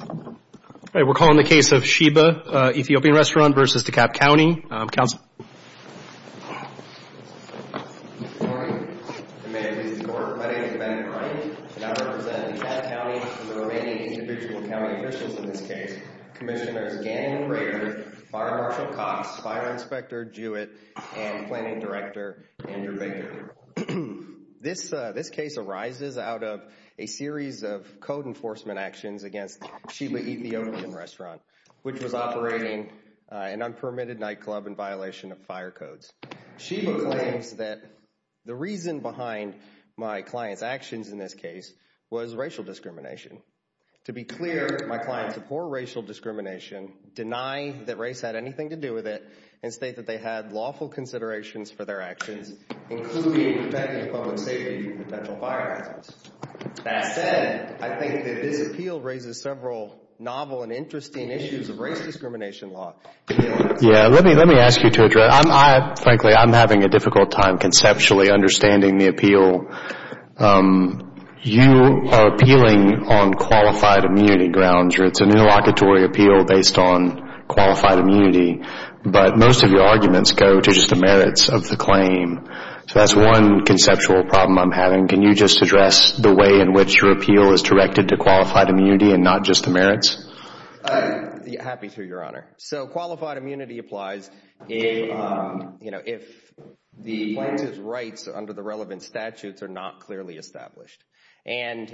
All right, we're calling the case of Sheba Ethiopian Restaurant v. Dekalb County. Good morning, and may it please the Court. My name is Ben Bryant, and I represent Dekalb County and the remaining individual county officials in this case, Commissioners Gannon Craitor, Marta Marshall-Cox, Fire Inspector Jewett, and Planning Director Andrew Baker. This case arises out of a series of code enforcement actions against Sheba Ethiopian Restaurant, which was operating an unpermitted nightclub in violation of fire codes. Sheba claims that the reason behind my client's actions in this case was racial discrimination. To be clear, my client's a poor racial discrimination, deny that race had anything to do with it, and state that they had lawful considerations for their actions, including protecting public safety from potential fire hazards. That said, I think that this appeal raises several novel and interesting issues of race discrimination law. Yeah, let me ask you to address. Frankly, I'm having a difficult time conceptually understanding the appeal. You are appealing on qualified immunity grounds, or it's an interlocutory appeal based on qualified immunity, but most of your arguments go to just the merits of the claim. So that's one conceptual problem I'm having. Can you just address the way in which your appeal is directed to qualified immunity and not just the merits? Happy to, Your Honor. So qualified immunity applies if the plaintiff's rights under the relevant statutes are not clearly established. And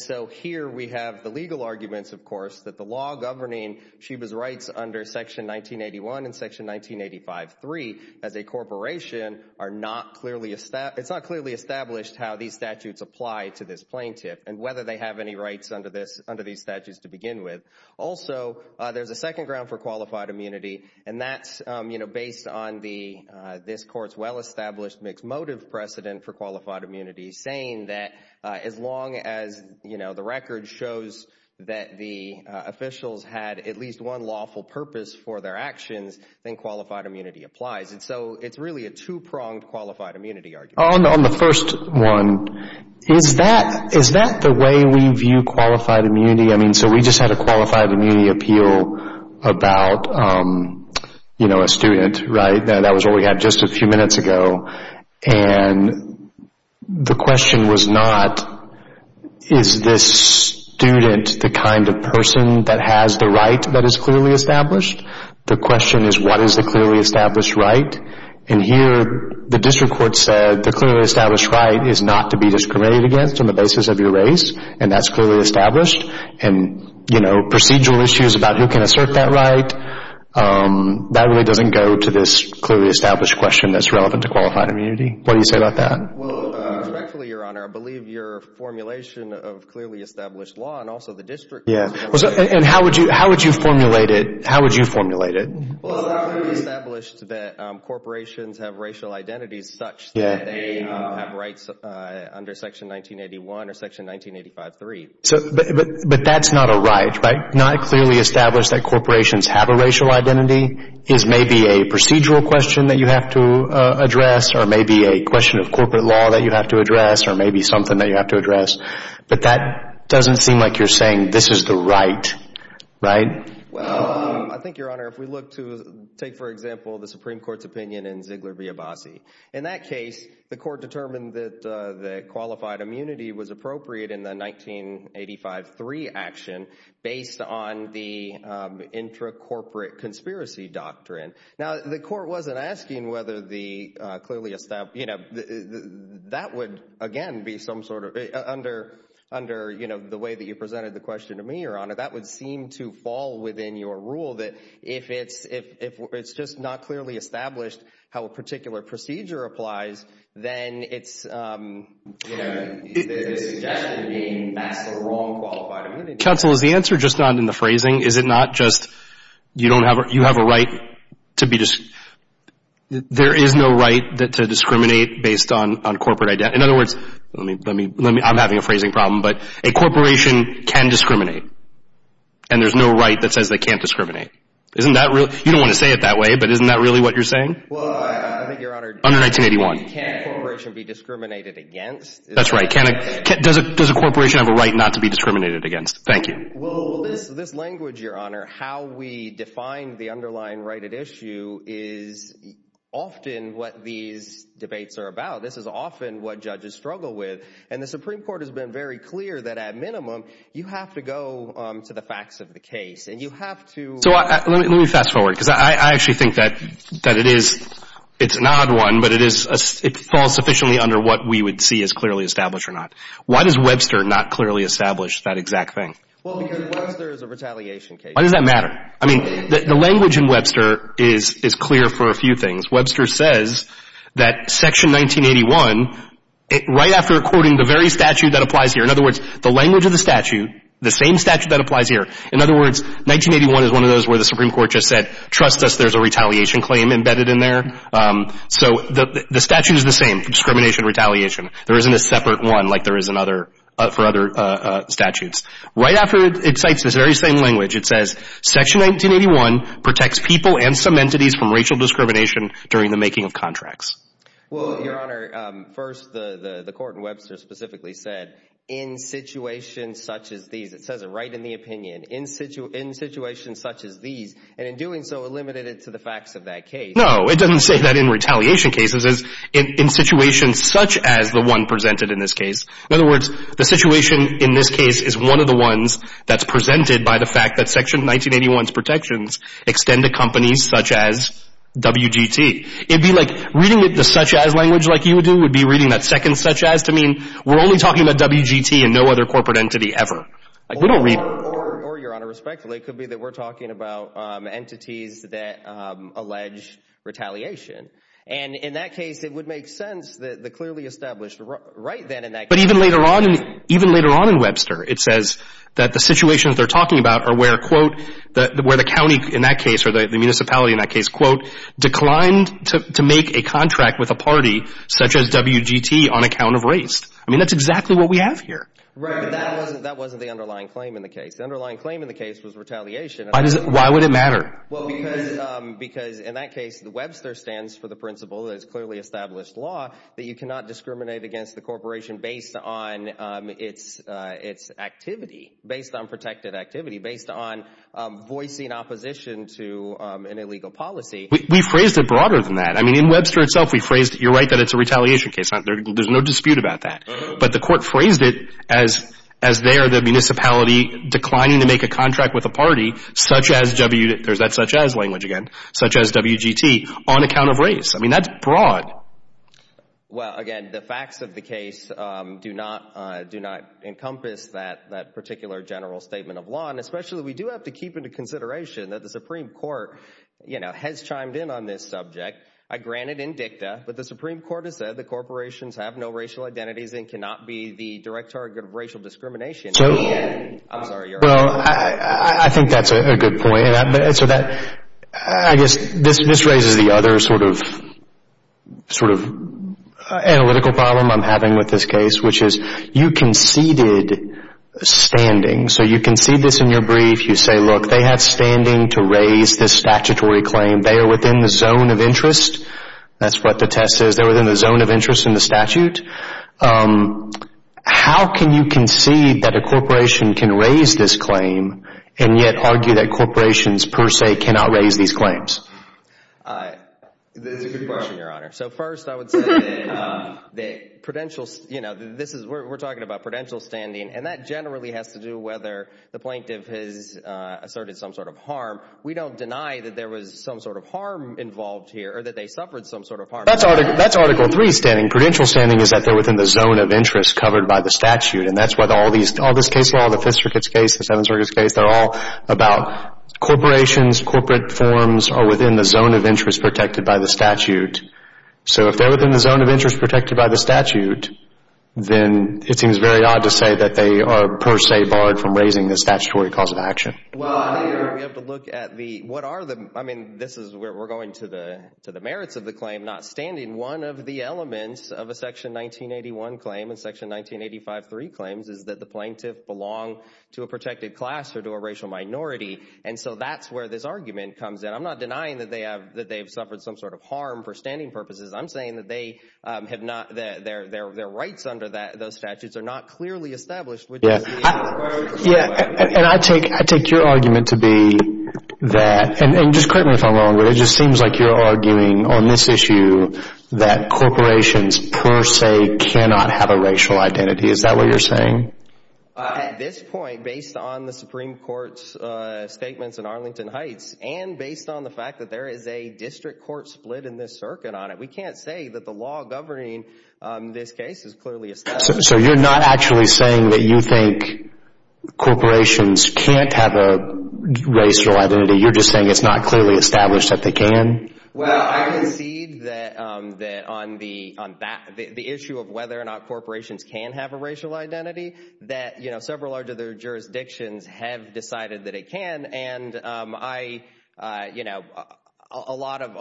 so here we have the legal arguments, of course, that the law governing Sheba's rights under Section 1981 and Section 1985-3 as a corporation, it's not clearly established how these statutes apply to this plaintiff and whether they have any rights under these statutes to begin with. Also, there's a second ground for qualified immunity, and that's based on this Court's well-established mixed motive precedent for qualified immunity, saying that as long as the record shows that the officials had at least one lawful purpose for their actions, then qualified immunity applies. And so it's really a two-pronged qualified immunity argument. On the first one, is that the way we view qualified immunity? I mean, so we just had a qualified immunity appeal about, you know, a student, right? That was what we had just a few minutes ago. And the question was not, is this student the kind of person that has the right that is clearly established? The question is, what is the clearly established right? And here the district court said the clearly established right is not to be discriminated against on the basis of your race, and that's clearly established. And, you know, procedural issues about who can assert that right, that really doesn't go to this clearly established question that's relevant to qualified immunity. What do you say about that? Well, respectfully, Your Honor, I believe your formulation of clearly established law and also the district court's formulation. And how would you formulate it? How would you formulate it? Well, it's not clearly established that corporations have racial identities such that they have rights under Section 1981 or Section 1985.3. But that's not a right, right? Not clearly established that corporations have a racial identity is maybe a procedural question that you have to address or maybe a question of corporate law that you have to address or maybe something that you have to address. But that doesn't seem like you're saying this is the right, right? Well, I think, Your Honor, if we look to take, for example, the Supreme Court's opinion in Ziegler v. Abbasi, in that case, the court determined that qualified immunity was appropriate in the 1985.3 action based on the intra-corporate conspiracy doctrine. Now, the court wasn't asking whether the clearly established, you know, that would, again, be some sort of, under, you know, the way that you presented the question to me, Your Honor, that would seem to fall within your rule that if it's just not clearly established how a particular procedure applies, then it's, you know, the suggestion being that's the wrong qualified immunity. Counsel, is the answer just not in the phrasing? Is it not just you don't have, you have a right to be, there is no right to discriminate based on corporate identity? In other words, let me, I'm having a phrasing problem. But a corporation can discriminate, and there's no right that says they can't discriminate. Isn't that, you don't want to say it that way, but isn't that really what you're saying? Well, I think, Your Honor. Under 1981. Can a corporation be discriminated against? That's right. Does a corporation have a right not to be discriminated against? Thank you. Well, this language, Your Honor, how we define the underlying right at issue is often what these debates are about. This is often what judges struggle with. And the Supreme Court has been very clear that at minimum you have to go to the facts of the case. And you have to. So let me fast forward, because I actually think that it is, it's an odd one, but it falls sufficiently under what we would see as clearly established or not. Why does Webster not clearly establish that exact thing? Well, because Webster is a retaliation case. Why does that matter? I mean, the language in Webster is clear for a few things. Webster says that Section 1981, right after quoting the very statute that applies here, in other words, the language of the statute, the same statute that applies here, in other words, 1981 is one of those where the Supreme Court just said, trust us, there's a retaliation claim embedded in there. So the statute is the same, discrimination, retaliation. There isn't a separate one like there is for other statutes. Right after it cites this very same language, it says, Section 1981 protects people and some entities from racial discrimination during the making of contracts. Well, Your Honor, first the court in Webster specifically said, in situations such as these, it says it right in the opinion, in situations such as these, and in doing so it limited it to the facts of that case. No, it doesn't say that in retaliation cases. It says in situations such as the one presented in this case. In other words, the situation in this case is one of the ones that's presented by the fact that Section 1981's protections extend to companies such as WGT. It would be like reading it the such-as language like you would do would be reading that second such-as to mean we're only talking about WGT and no other corporate entity ever. Or, Your Honor, respectfully, it could be that we're talking about entities that allege retaliation, and in that case it would make sense that the clearly established right then in that case. But even later on in Webster it says that the situations they're talking about are where, quote, where the county in that case or the municipality in that case, quote, declined to make a contract with a party such as WGT on account of race. I mean, that's exactly what we have here. Right, but that wasn't the underlying claim in the case. The underlying claim in the case was retaliation. Why would it matter? Well, because in that case Webster stands for the principle that it's clearly established law that you cannot discriminate against the corporation based on its activity, based on protected activity, based on voicing opposition to an illegal policy. We phrased it broader than that. I mean, in Webster itself we phrased it. You're right that it's a retaliation case. There's no dispute about that. But the court phrased it as there the municipality declining to make a contract with a party such as WGT, there's that such-as language again, such as WGT on account of race. I mean, that's broad. Well, again, the facts of the case do not encompass that particular general statement of law, and especially we do have to keep into consideration that the Supreme Court, you know, has chimed in on this subject. I grant it in dicta, but the Supreme Court has said the corporations have no racial identities and cannot be the direct target of racial discrimination. I'm sorry, you're on. Well, I think that's a good point. I guess this raises the other sort of analytical problem I'm having with this case, which is you conceded standing. So you concede this in your brief. You say, look, they had standing to raise this statutory claim. They are within the zone of interest. That's what the test says. They're within the zone of interest in the statute. How can you concede that a corporation can raise this claim and yet argue that corporations per se cannot raise these claims? That's a good question, Your Honor. So first I would say that, you know, we're talking about prudential standing, and that generally has to do whether the plaintiff has asserted some sort of harm. We don't deny that there was some sort of harm involved here or that they suffered some sort of harm. That's Article III standing. And prudential standing is that they're within the zone of interest covered by the statute, and that's why all this case law, the Fifth Circuit's case, the Seventh Circuit's case, they're all about corporations, corporate forms are within the zone of interest protected by the statute. So if they're within the zone of interest protected by the statute, then it seems very odd to say that they are per se barred from raising the statutory cause of action. Well, we have to look at the what are the, I mean, this is where we're going to the merits of the claim, not standing, one of the elements of a Section 1981 claim and Section 19853 claims is that the plaintiff belong to a protected class or to a racial minority, and so that's where this argument comes in. I'm not denying that they have suffered some sort of harm for standing purposes. I'm saying that they have not, that their rights under those statutes are not clearly established. Yeah, and I take your argument to be that, and just correct me if I'm wrong, but it just seems like you're arguing on this issue that corporations per se cannot have a racial identity. Is that what you're saying? At this point, based on the Supreme Court's statements in Arlington Heights and based on the fact that there is a district court split in this circuit on it, we can't say that the law governing this case is clearly established. So you're not actually saying that you think corporations can't have a racial identity. You're just saying it's not clearly established that they can? Well, I concede that on the issue of whether or not corporations can have a racial identity, that several other jurisdictions have decided that it can, and I, you know, a lot of—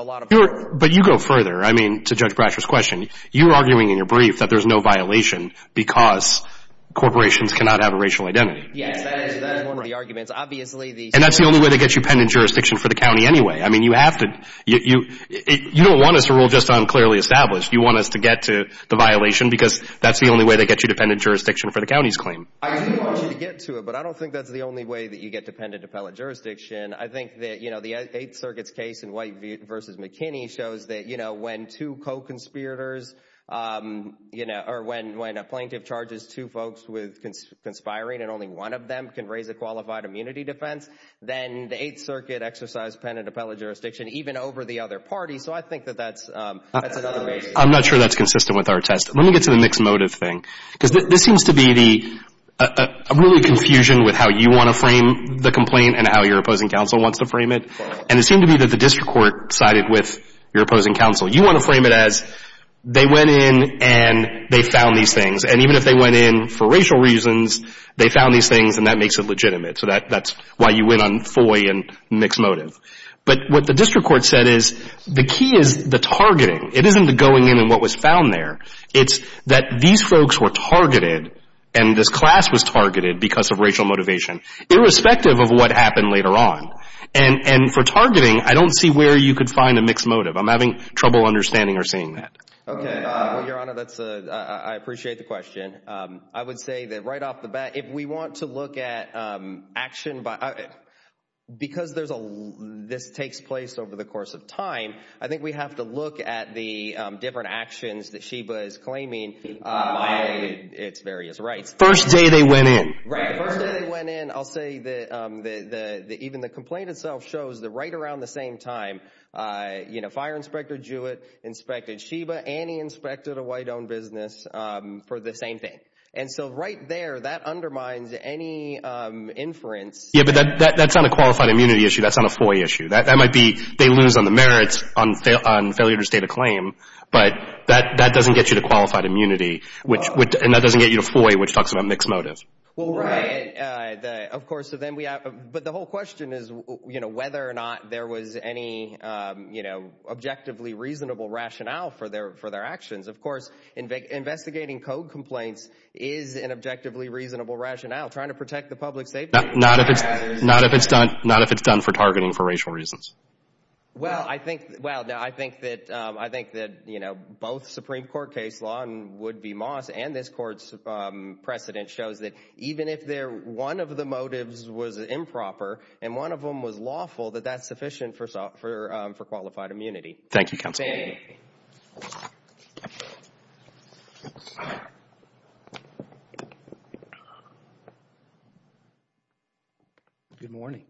But you go further, I mean, to Judge Brasher's question. You're arguing in your brief that there's no violation because corporations cannot have a racial identity. Yes, that is one of the arguments. And that's the only way they get you pen and jurisdiction for the county anyway. I mean, you have to—you don't want us to rule just on clearly established. You want us to get to the violation because that's the only way they get you dependent jurisdiction for the county's claim. I do want you to get to it, but I don't think that's the only way that you get dependent appellate jurisdiction. I think that, you know, the Eighth Circuit's case in White v. McKinney shows that, you know, when two co-conspirators, you know, or when a plaintiff charges two folks with conspiring and only one of them can raise a qualified immunity defense, then the Eighth Circuit exercised dependent appellate jurisdiction even over the other party. So I think that that's another reason. I'm not sure that's consistent with our test. Let me get to the mixed motive thing because this seems to be the—a really confusion with how you want to frame the complaint and how your opposing counsel wants to frame it. And it seemed to me that the district court sided with your opposing counsel. You want to frame it as they went in and they found these things. And even if they went in for racial reasons, they found these things and that makes it legitimate. So that's why you went on FOI and mixed motive. But what the district court said is the key is the targeting. It isn't the going in and what was found there. It's that these folks were targeted and this class was targeted because of racial motivation, irrespective of what happened later on. And for targeting, I don't see where you could find a mixed motive. I'm having trouble understanding or seeing that. Okay. Well, Your Honor, that's a—I appreciate the question. I would say that right off the bat, if we want to look at action by—because there's a—this takes place over the course of time, I think we have to look at the different actions that Sheba is claiming by its various rights. First day they went in. Right. The first day they went in, I'll say that even the complaint itself shows that right around the same time, Fire Inspector Jewett inspected Sheba. Annie inspected a white-owned business for the same thing. And so right there, that undermines any inference. Yeah, but that's not a qualified immunity issue. That's not a FOI issue. That might be they lose on the merits on failure to state a claim, but that doesn't get you to qualified immunity, and that doesn't get you to FOI, which talks about mixed motives. Right. Of course, so then we have—but the whole question is whether or not there was any objectively reasonable rationale for their actions. Of course, investigating code complaints is an objectively reasonable rationale. Trying to protect the public safety— Not if it's done for targeting for racial reasons. Well, I think—well, I think that, you know, both Supreme Court case law and Wood v. Moss and this court's precedent shows that even if one of the motives was improper and one of them was lawful, that that's sufficient for qualified immunity. Thank you, counsel. Thank you. Good morning.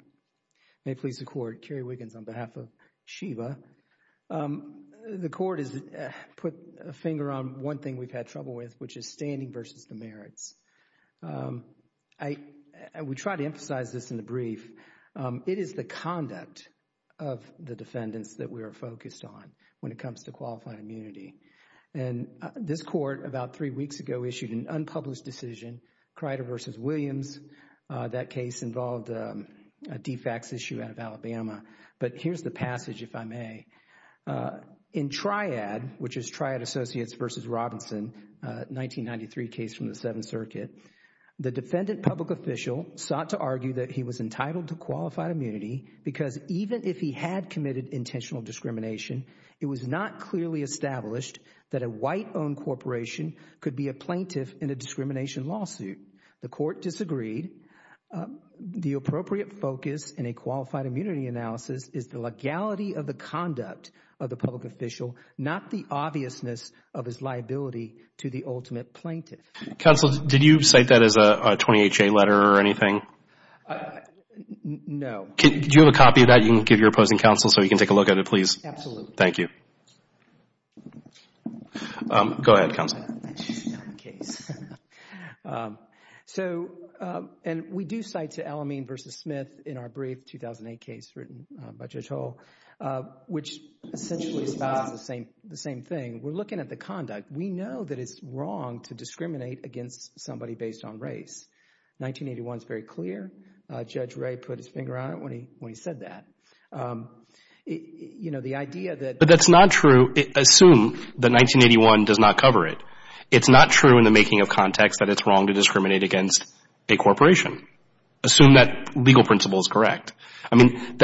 May it please the Court. Kerry Wiggins on behalf of SHEBA. The Court has put a finger on one thing we've had trouble with, which is standing versus the merits. I would try to emphasize this in the brief. It is the conduct of the defendants that we are focused on when it comes to qualified immunity. And this Court, about three weeks ago, issued an unpublished decision, Crider v. Williams. That case involved a defax issue out of Alabama. But here's the passage, if I may. In Triad, which is Triad Associates v. Robinson, 1993 case from the Seventh Circuit, the defendant public official sought to argue that he was entitled to qualified immunity because even if he had committed intentional discrimination, it was not clearly established that a white-owned corporation could be a plaintiff in a discrimination lawsuit. The Court disagreed. The appropriate focus in a qualified immunity analysis is the legality of the conduct of the public official, not the obviousness of his liability to the ultimate plaintiff. Counsel, did you cite that as a 28-J letter or anything? No. Do you have a copy of that you can give your opposing counsel so he can take a look at it, please? Absolutely. Thank you. Go ahead, counsel. That's not the case. So, and we do cite to Alameen v. Smith in our brief 2008 case written by Judge Hull, which essentially states the same thing. We're looking at the conduct. We know that it's wrong to discriminate against somebody based on race. 1981 is very clear. Judge Ray put his finger on it when he said that. You know, the idea that— It's not true in the making of context that it's wrong to discriminate against a corporation. Assume that legal principle is correct. I mean,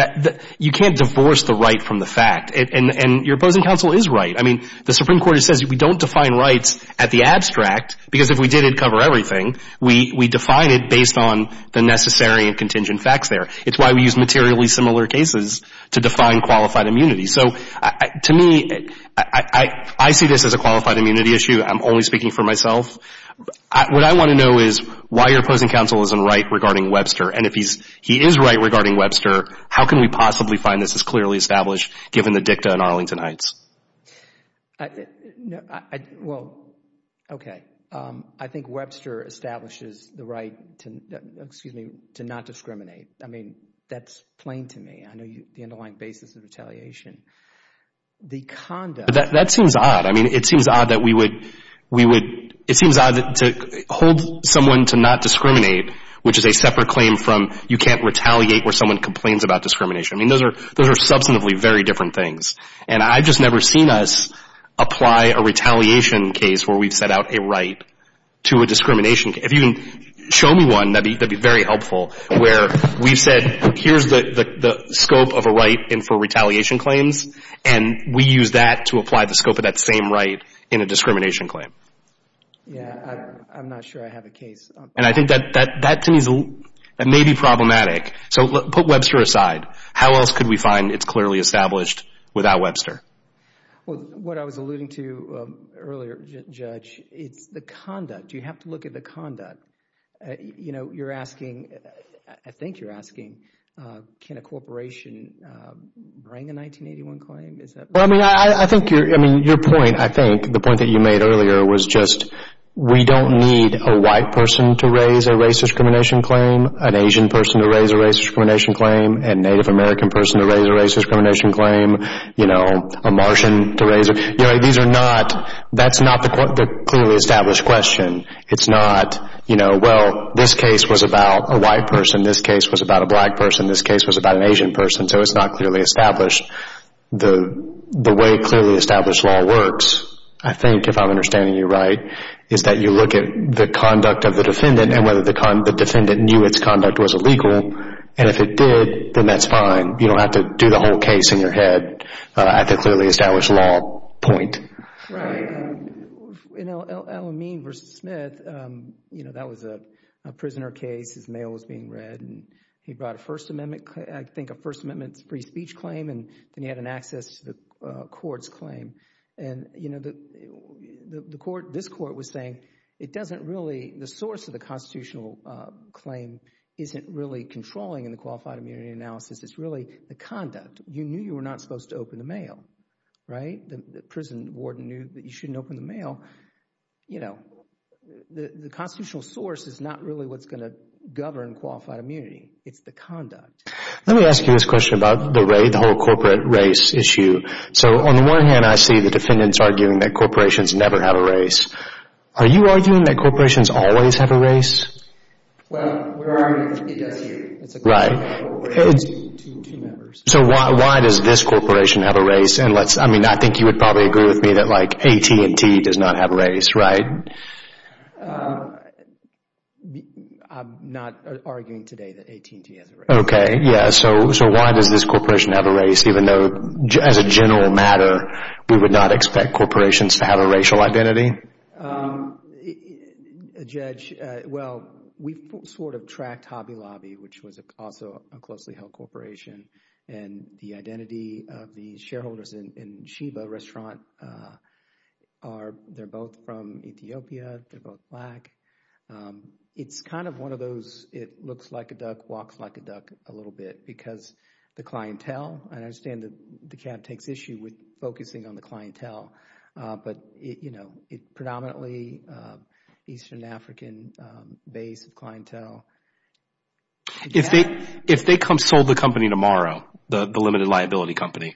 you can't divorce the right from the fact. And your opposing counsel is right. I mean, the Supreme Court says we don't define rights at the abstract because if we did, it'd cover everything. We define it based on the necessary and contingent facts there. It's why we use materially similar cases to define qualified immunity. So, to me, I see this as a qualified immunity issue. I'm only speaking for myself. What I want to know is why your opposing counsel isn't right regarding Webster. And if he is right regarding Webster, how can we possibly find this is clearly established given the dicta in Arlington Heights? Well, okay. I think Webster establishes the right to not discriminate. I mean, that's plain to me. I know the underlying basis of retaliation. The conduct— That seems odd. I mean, it seems odd that we would—it seems odd to hold someone to not discriminate, which is a separate claim from you can't retaliate where someone complains about discrimination. I mean, those are substantively very different things. And I've just never seen us apply a retaliation case where we've set out a right to a discrimination. If you can show me one, that'd be very helpful, where we've said here's the scope of a right for retaliation claims, and we use that to apply the scope of that same right in a discrimination claim. Yeah, I'm not sure I have a case. And I think that to me may be problematic. So put Webster aside. How else could we find it's clearly established without Webster? Well, what I was alluding to earlier, Judge, it's the conduct. You have to look at the conduct. You know, you're asking—I think you're asking can a corporation bring a 1981 claim? I mean, your point, I think, the point that you made earlier was just we don't need a white person to raise a race discrimination claim, an Asian person to raise a race discrimination claim, a Native American person to raise a race discrimination claim, you know, a Martian to raise a— You know, these are not—that's not the clearly established question. It's not, you know, well, this case was about a white person. This case was about a black person. This case was about an Asian person. So it's not clearly established. The way clearly established law works, I think, if I'm understanding you right, is that you look at the conduct of the defendant and whether the defendant knew its conduct was illegal. And if it did, then that's fine. You don't have to do the whole case in your head at the clearly established law point. Right. In El-Amin v. Smith, you know, that was a prisoner case. His mail was being read, and he brought a First Amendment—I think a First Amendment free speech claim, and then he had an access to the court's claim. And, you know, the court—this court was saying it doesn't really— the source of the constitutional claim isn't really controlling in the qualified immunity analysis. It's really the conduct. You knew you were not supposed to open the mail, right? The prison warden knew that you shouldn't open the mail. You know, the constitutional source is not really what's going to govern qualified immunity. It's the conduct. Let me ask you this question about the whole corporate race issue. So on the one hand, I see the defendants arguing that corporations never have a race. Are you arguing that corporations always have a race? Well, we're arguing it does here. Right. Two members. So why does this corporation have a race? And let's—I mean, I think you would probably agree with me that, like, AT&T does not have a race, right? I'm not arguing today that AT&T has a race. Okay, yeah. So why does this corporation have a race even though, as a general matter, we would not expect corporations to have a racial identity? Judge, well, we sort of tracked Hobby Lobby, which was also a closely held corporation, and the identity of the shareholders in Sheba Restaurant are—they're both from Ethiopia. They're both black. It's kind of one of those it looks like a duck walks like a duck a little bit because the clientele, and I understand that the cab takes issue with focusing on the clientele, but, you know, it's predominantly Eastern African-based clientele. If they sold the company tomorrow, the limited liability company,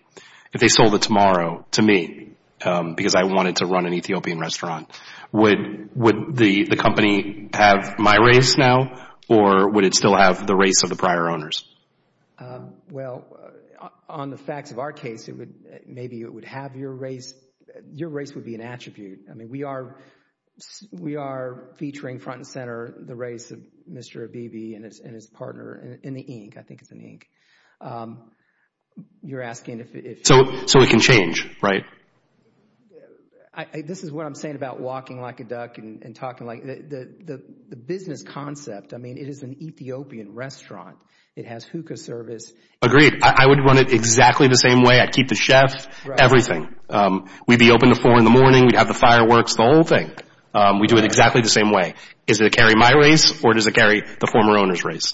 if they sold it tomorrow to me because I wanted to run an Ethiopian restaurant, would the company have my race now or would it still have the race of the prior owners? Well, on the facts of our case, maybe it would have your race. Your race would be an attribute. I mean, we are featuring front and center the race of Mr. Abibi and his partner in the ink. I think it's an ink. You're asking if— So it can change, right? This is what I'm saying about walking like a duck and talking like—the business concept, I mean, it is an Ethiopian restaurant. It has hookah service. Agreed. I would run it exactly the same way. I'd keep the chef, everything. We'd be open at 4 in the morning. We'd have the fireworks, the whole thing. We'd do it exactly the same way. Is it going to carry my race or does it carry the former owner's race?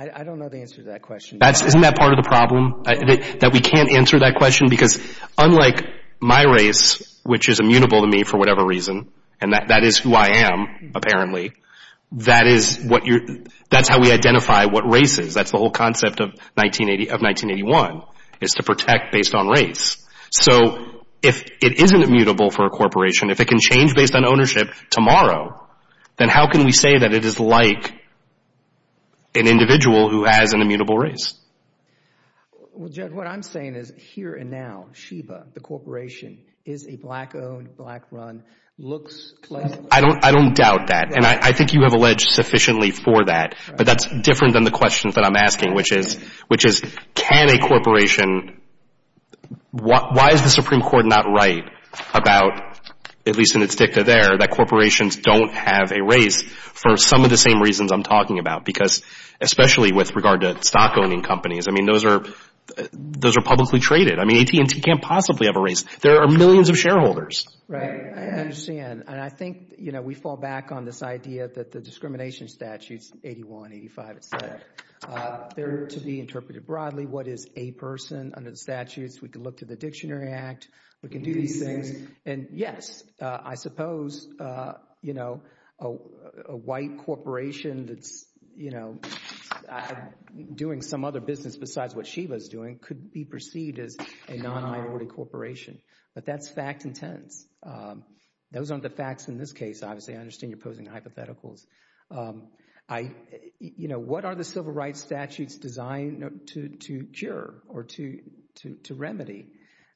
I don't know the answer to that question. Isn't that part of the problem, that we can't answer that question? Because unlike my race, which is immutable to me for whatever reason, and that is who I am, apparently, that's how we identify what race is. That's the whole concept of 1981 is to protect based on race. So if it isn't immutable for a corporation, if it can change based on ownership tomorrow, then how can we say that it is like an individual who has an immutable race? Well, Judd, what I'm saying is here and now, Sheba, the corporation, is a black-owned, black-run, looks— I don't doubt that, and I think you have alleged sufficiently for that, but that's different than the questions that I'm asking, which is can a corporation— why is the Supreme Court not right about, at least in its dicta there, that corporations don't have a race for some of the same reasons I'm talking about? Because especially with regard to stock-owning companies, I mean, those are publicly traded. I mean, AT&T can't possibly have a race. There are millions of shareholders. Right, I understand. And I think, you know, we fall back on this idea that the discrimination statutes, 81, 85, etc., they're to be interpreted broadly. What is a person under the statutes? We can look to the Dictionary Act. We can do these things. And, yes, I suppose, you know, a white corporation that's, you know, doing some other business besides what Sheba's doing could be perceived as a non-minority corporation. But that's fact and tense. Those aren't the facts in this case, obviously. I understand you're posing hypotheticals. I, you know, what are the civil rights statutes designed to cure or to remedy?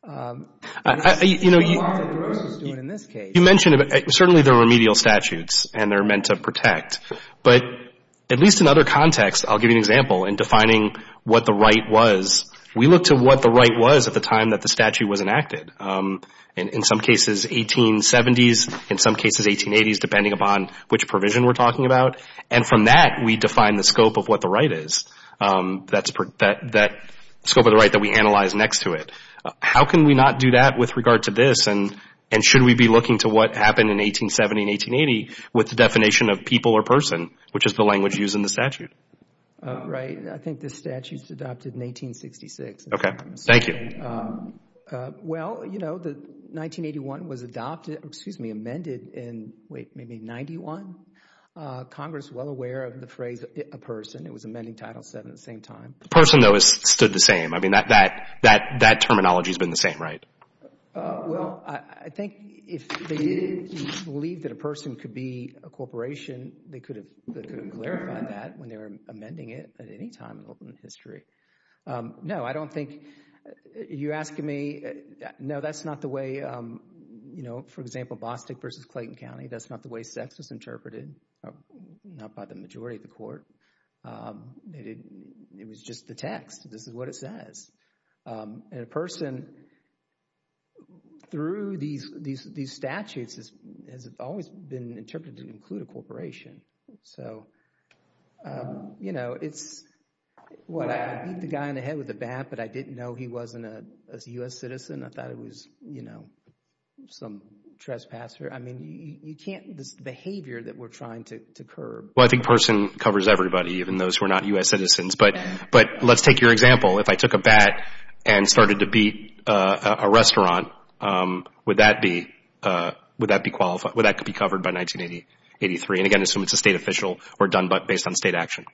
You know, you mentioned certainly the remedial statutes, and they're meant to protect. But at least in other contexts, I'll give you an example. In defining what the right was, we looked at what the right was at the time that the statute was enacted. In some cases, 1870s. In some cases, 1880s, depending upon which provision we're talking about. And from that, we define the scope of what the right is, that scope of the right that we analyze next to it. How can we not do that with regard to this? And should we be looking to what happened in 1870 and 1880 with the definition of people or person, which is the language used in the statute? Right. I think the statute's adopted in 1866. Okay. Thank you. Well, you know, 1981 was adopted, excuse me, amended in, wait, maybe 91. Congress, well aware of the phrase a person. It was amending Title VII at the same time. The person, though, has stood the same. I mean, that terminology's been the same, right? Well, I think if they believed that a person could be a corporation, they could have clarified that when they were amending it at any time in history. No, I don't think you're asking me. No, that's not the way, you know, for example, Bostick v. Clayton County, that's not the way sex was interpreted, not by the majority of the court. It was just the text. This is what it says. And a person, through these statutes, has always been interpreted to include a corporation. So, you know, it's, what, I beat the guy in the head with a bat, but I didn't know he wasn't a U.S. citizen. I thought it was, you know, some trespasser. I mean, you can't, this behavior that we're trying to curb. Well, I think person covers everybody, even those who are not U.S. citizens. But let's take your example. If I took a bat and started to beat a restaurant, would that be qualified? Would that be covered by 1983? And, again, assume it's a state official or done based on state action.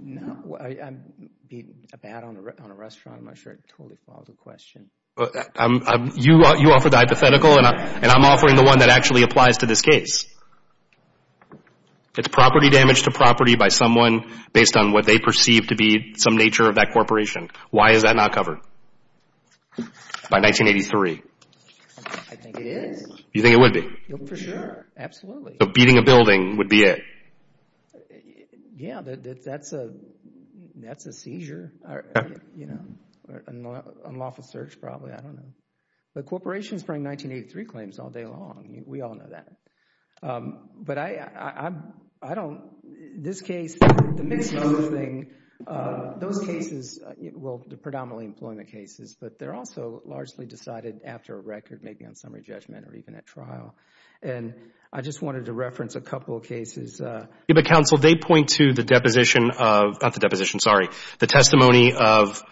No, I beat a bat on a restaurant. I'm not sure it totally follows the question. You offered the hypothetical, and I'm offering the one that actually applies to this case. It's property damage to property by someone based on what they perceive to be some nature of that corporation. Why is that not covered by 1983? I think it is. You think it would be? For sure. Absolutely. So beating a building would be it? Yeah, that's a seizure, you know, or unlawful search probably. I don't know. But corporations bring 1983 claims all day long. We all know that. But I don't, this case, the mixed use thing, those cases, well, the predominantly employment cases, but they're also largely decided after a record, maybe on summary judgment or even at trial. And I just wanted to reference a couple of cases. But, counsel, they point to the deposition of, not the deposition, sorry, the testimony of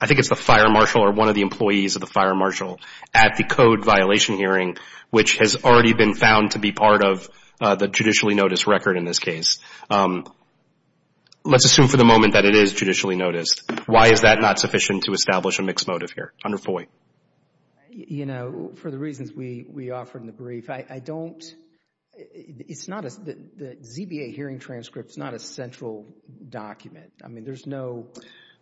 I think it's the fire marshal or one of the employees of the fire marshal at the code violation hearing, which has already been found to be part of the judicially noticed record in this case. Let's assume for the moment that it is judicially noticed. Why is that not sufficient to establish a mixed motive here under FOIA? You know, for the reasons we offered in the brief, I don't, it's not a, the ZBA hearing transcript is not a central document. I mean, there's no,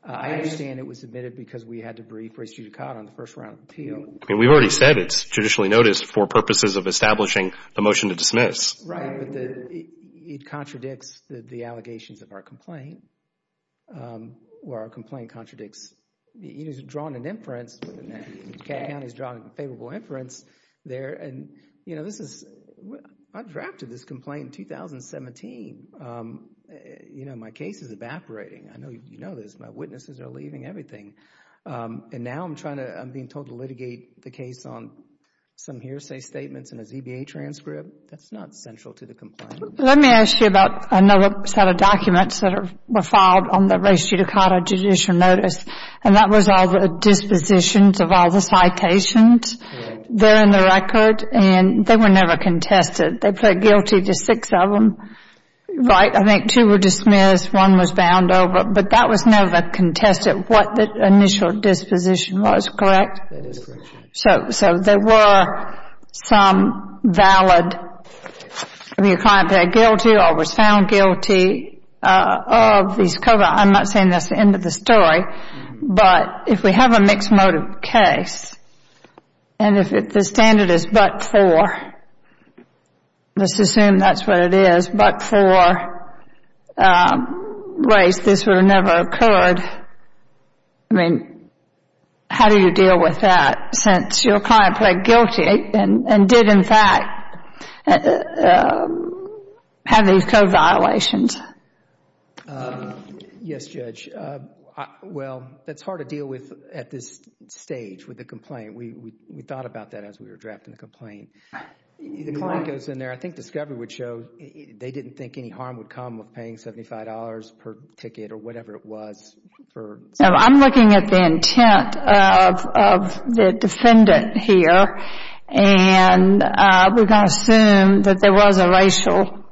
I understand it was submitted because we had to brief race judicata on the first round of appeal. I mean, we've already said it's judicially noticed for purposes of establishing the motion to dismiss. Right, but it contradicts the allegations of our complaint, where our complaint contradicts, you know, it's drawn an inference, the county's drawn a favorable inference there. And, you know, this is, I drafted this complaint in 2017. You know, my case is evaporating. I know you know this. My witnesses are leaving, everything. And now I'm trying to, I'm being told to litigate the case on some hearsay statements and a ZBA transcript. That's not central to the complaint. Let me ask you about another set of documents that were filed on the race judicata judicial notice. And that was all the dispositions of all the citations there in the record. And they were never contested. They pled guilty to six of them, right? I think two were dismissed, one was bound over. But that was never contested, what the initial disposition was, correct? That is correct. So there were some valid, the client pled guilty or was found guilty of these covants. I'm not saying that's the end of the story. But if we have a mixed motive case, and if the standard is but for, let's assume that's what it is, but for race, this would have never occurred. I mean, how do you deal with that since your client pled guilty and did, in fact, have these code violations? Yes, Judge. Well, that's hard to deal with at this stage with the complaint. We thought about that as we were drafting the complaint. The client goes in there, I think discovery would show they didn't think any harm would come with paying $75 per ticket or whatever it was. I'm looking at the intent of the defendant here. And we're going to assume that there was a racial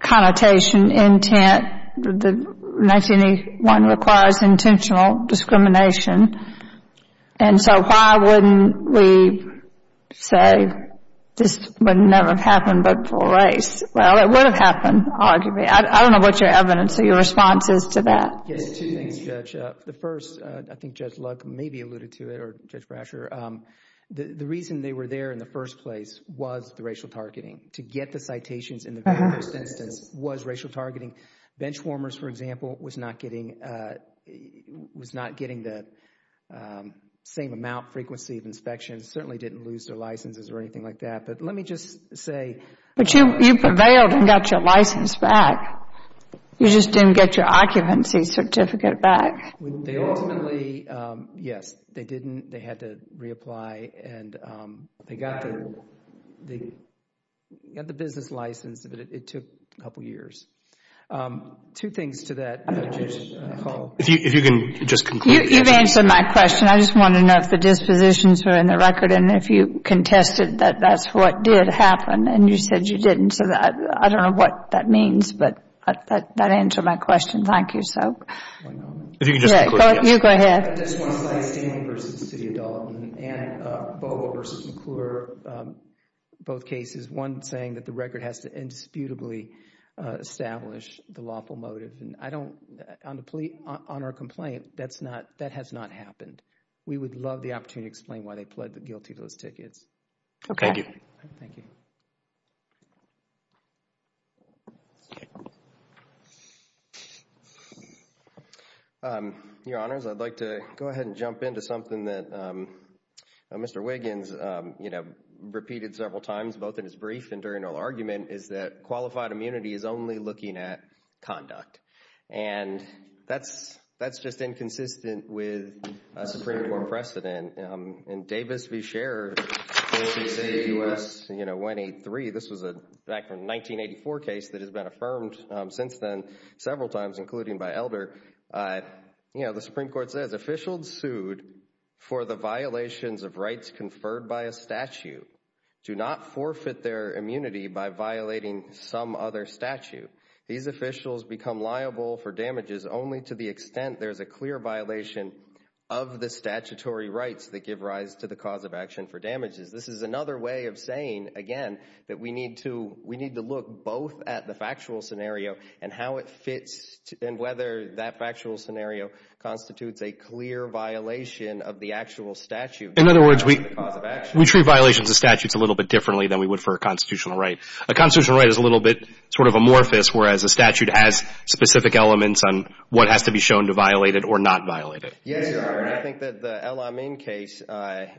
connotation intent. 1981 requires intentional discrimination. And so why wouldn't we say this would never have happened but for race? Well, it would have happened, arguably. I don't know what your evidence or your response is to that. Yes, two things, Judge. The first, I think Judge Luck maybe alluded to it or Judge Brasher, the reason they were there in the first place was the racial targeting. To get the citations in the first instance was racial targeting. Benchwarmers, for example, was not getting the same amount, frequency of inspections, certainly didn't lose their licenses or anything like that. But let me just say. But you prevailed and got your license back. You just didn't get your occupancy certificate back. They ultimately, yes, they didn't. They had to reapply. And they got the business license, but it took a couple years. Two things to that, Judge Hall. If you can just conclude. You've answered my question. I just wanted to know if the dispositions were in the record and if you contested that that's what did happen and you said you didn't. I don't know what that means, but that answered my question. Thank you. If you can just conclude. You go ahead. I just want to say Stanley v. City of Dalton and Bovo v. McClure, both cases. One saying that the record has to indisputably establish the lawful motive. On our complaint, that has not happened. We would love the opportunity to explain why they pled guilty to those tickets. Okay. Thank you. Thank you. Your Honors, I'd like to go ahead and jump into something that Mr. Wiggins repeated several times, both in his brief and during our argument, is that qualified immunity is only looking at conduct. And that's just inconsistent with Supreme Court precedent. In Davis v. Scherer, 46A U.S. 183, this was a 1984 case that has been affirmed since then several times, including by Elder. The Supreme Court says, Officials sued for the violations of rights conferred by a statute do not forfeit their immunity by violating some other statute. These officials become liable for damages only to the extent there is a clear violation of the statutory rights that give rise to the cause of action for damages. This is another way of saying, again, that we need to look both at the factual scenario and how it fits and whether that factual scenario constitutes a clear violation of the actual statute. In other words, we treat violations of statutes a little bit differently than we would for a constitutional right. A constitutional right is a little bit sort of amorphous, whereas a statute has specific elements on what has to be shown to violate it or not violate it. Yes, Your Honor. I think that the El-Amin case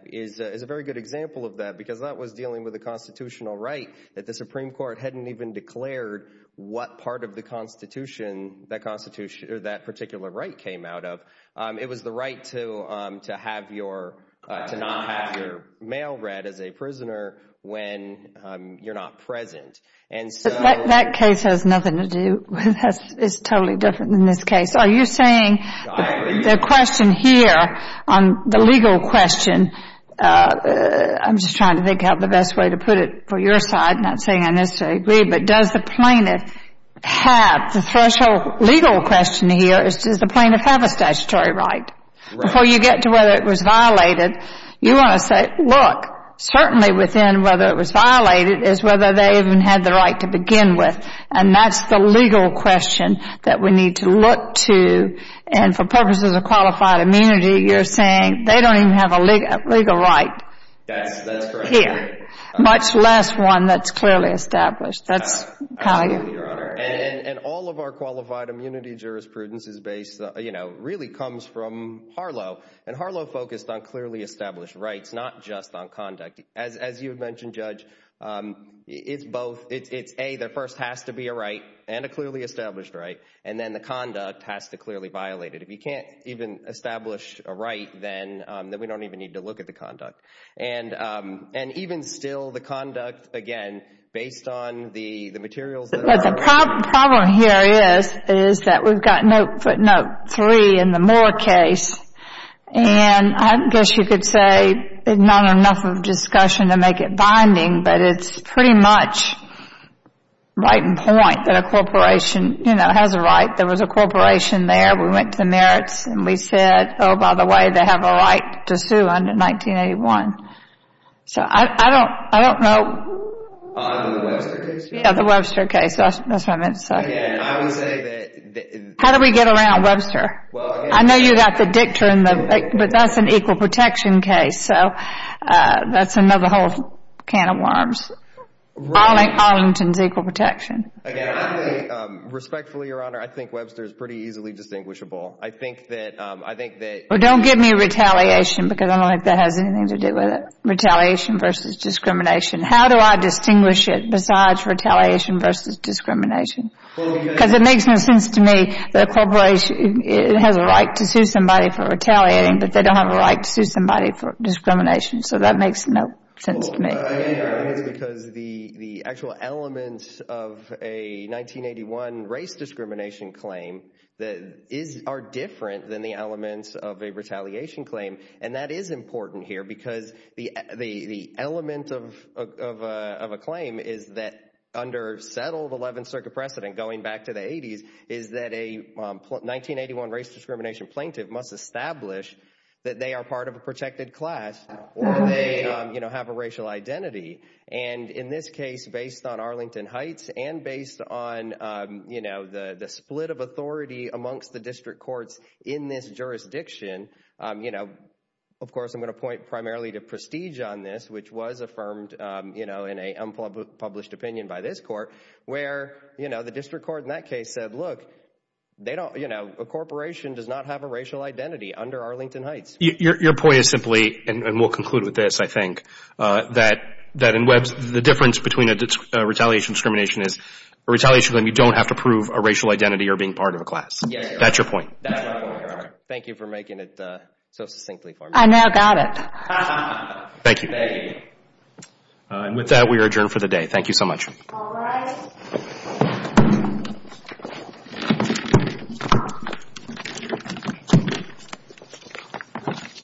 is a very good example of that because that was dealing with a constitutional right that the Supreme Court hadn't even declared what part of the Constitution that particular right came out of. It was the right to not have your mail read as a prisoner when you're not present. That case has nothing to do with us. It's totally different than this case. Are you saying the question here, the legal question, I'm just trying to think of the best way to put it for your side, not saying I necessarily agree, but does the plaintiff have, the special legal question here is does the plaintiff have a statutory right? Right. Before you get to whether it was violated, you want to say, look, certainly within whether it was violated is whether they even had the right to begin with. And that's the legal question that we need to look to. And for purposes of qualified immunity, you're saying they don't even have a legal right here. That's correct. Much less one that's clearly established. Absolutely, Your Honor. And all of our qualified immunity jurisprudence really comes from Harlow. And Harlow focused on clearly established rights, not just on conduct. As you had mentioned, Judge, it's both. It's A, there first has to be a right and a clearly established right, and then the conduct has to clearly violate it. If you can't even establish a right, then we don't even need to look at the conduct. And even still, the conduct, again, based on the materials that are available. But the problem here is that we've got note, footnote three in the Moore case, and I guess you could say not enough of a discussion to make it binding, but it's pretty much right in point that a corporation, you know, has a right. There was a corporation there. We went to the merits and we said, oh, by the way, they have a right to sue under 1981. So I don't know. Under the Webster case? Yeah, the Webster case. That's what I meant to say. Again, I would say that... How do we get around Webster? Well, again... I know you got the dictum, but that's an equal protection case. So that's another whole can of worms. Arlington's equal protection. Again, I think, respectfully, Your Honor, I think Webster is pretty easily distinguishable. I think that... Well, don't give me retaliation because I don't think that has anything to do with it. Retaliation versus discrimination. How do I distinguish it besides retaliation versus discrimination? Because it makes no sense to me that a corporation has a right to sue somebody for retaliating, but they don't have a right to sue somebody for discrimination. So that makes no sense to me. Because the actual elements of a 1981 race discrimination claim are different than the elements of a retaliation claim, and that is important here because the element of a claim is that under settled 11th Circuit precedent going back to the 80s is that a 1981 race discrimination plaintiff must establish that they are part of a protected class or they have a racial identity. And in this case, based on Arlington Heights and based on the split of authority amongst the district courts in this jurisdiction, of course I'm going to point primarily to Prestige on this, which was affirmed in an unpublished opinion by this court, where the district court in that case said, look, a corporation does not have a racial identity under Arlington Heights. Your point is simply, and we'll conclude with this, I think, that in Webbs, the difference between a retaliation discrimination is a retaliation claim, you don't have to prove a racial identity or being part of a class. That's your point. Thank you for making it so succinctly for me. I now got it. Thank you. And with that, we are adjourned for the day. Thank you so much. All right. Thank you.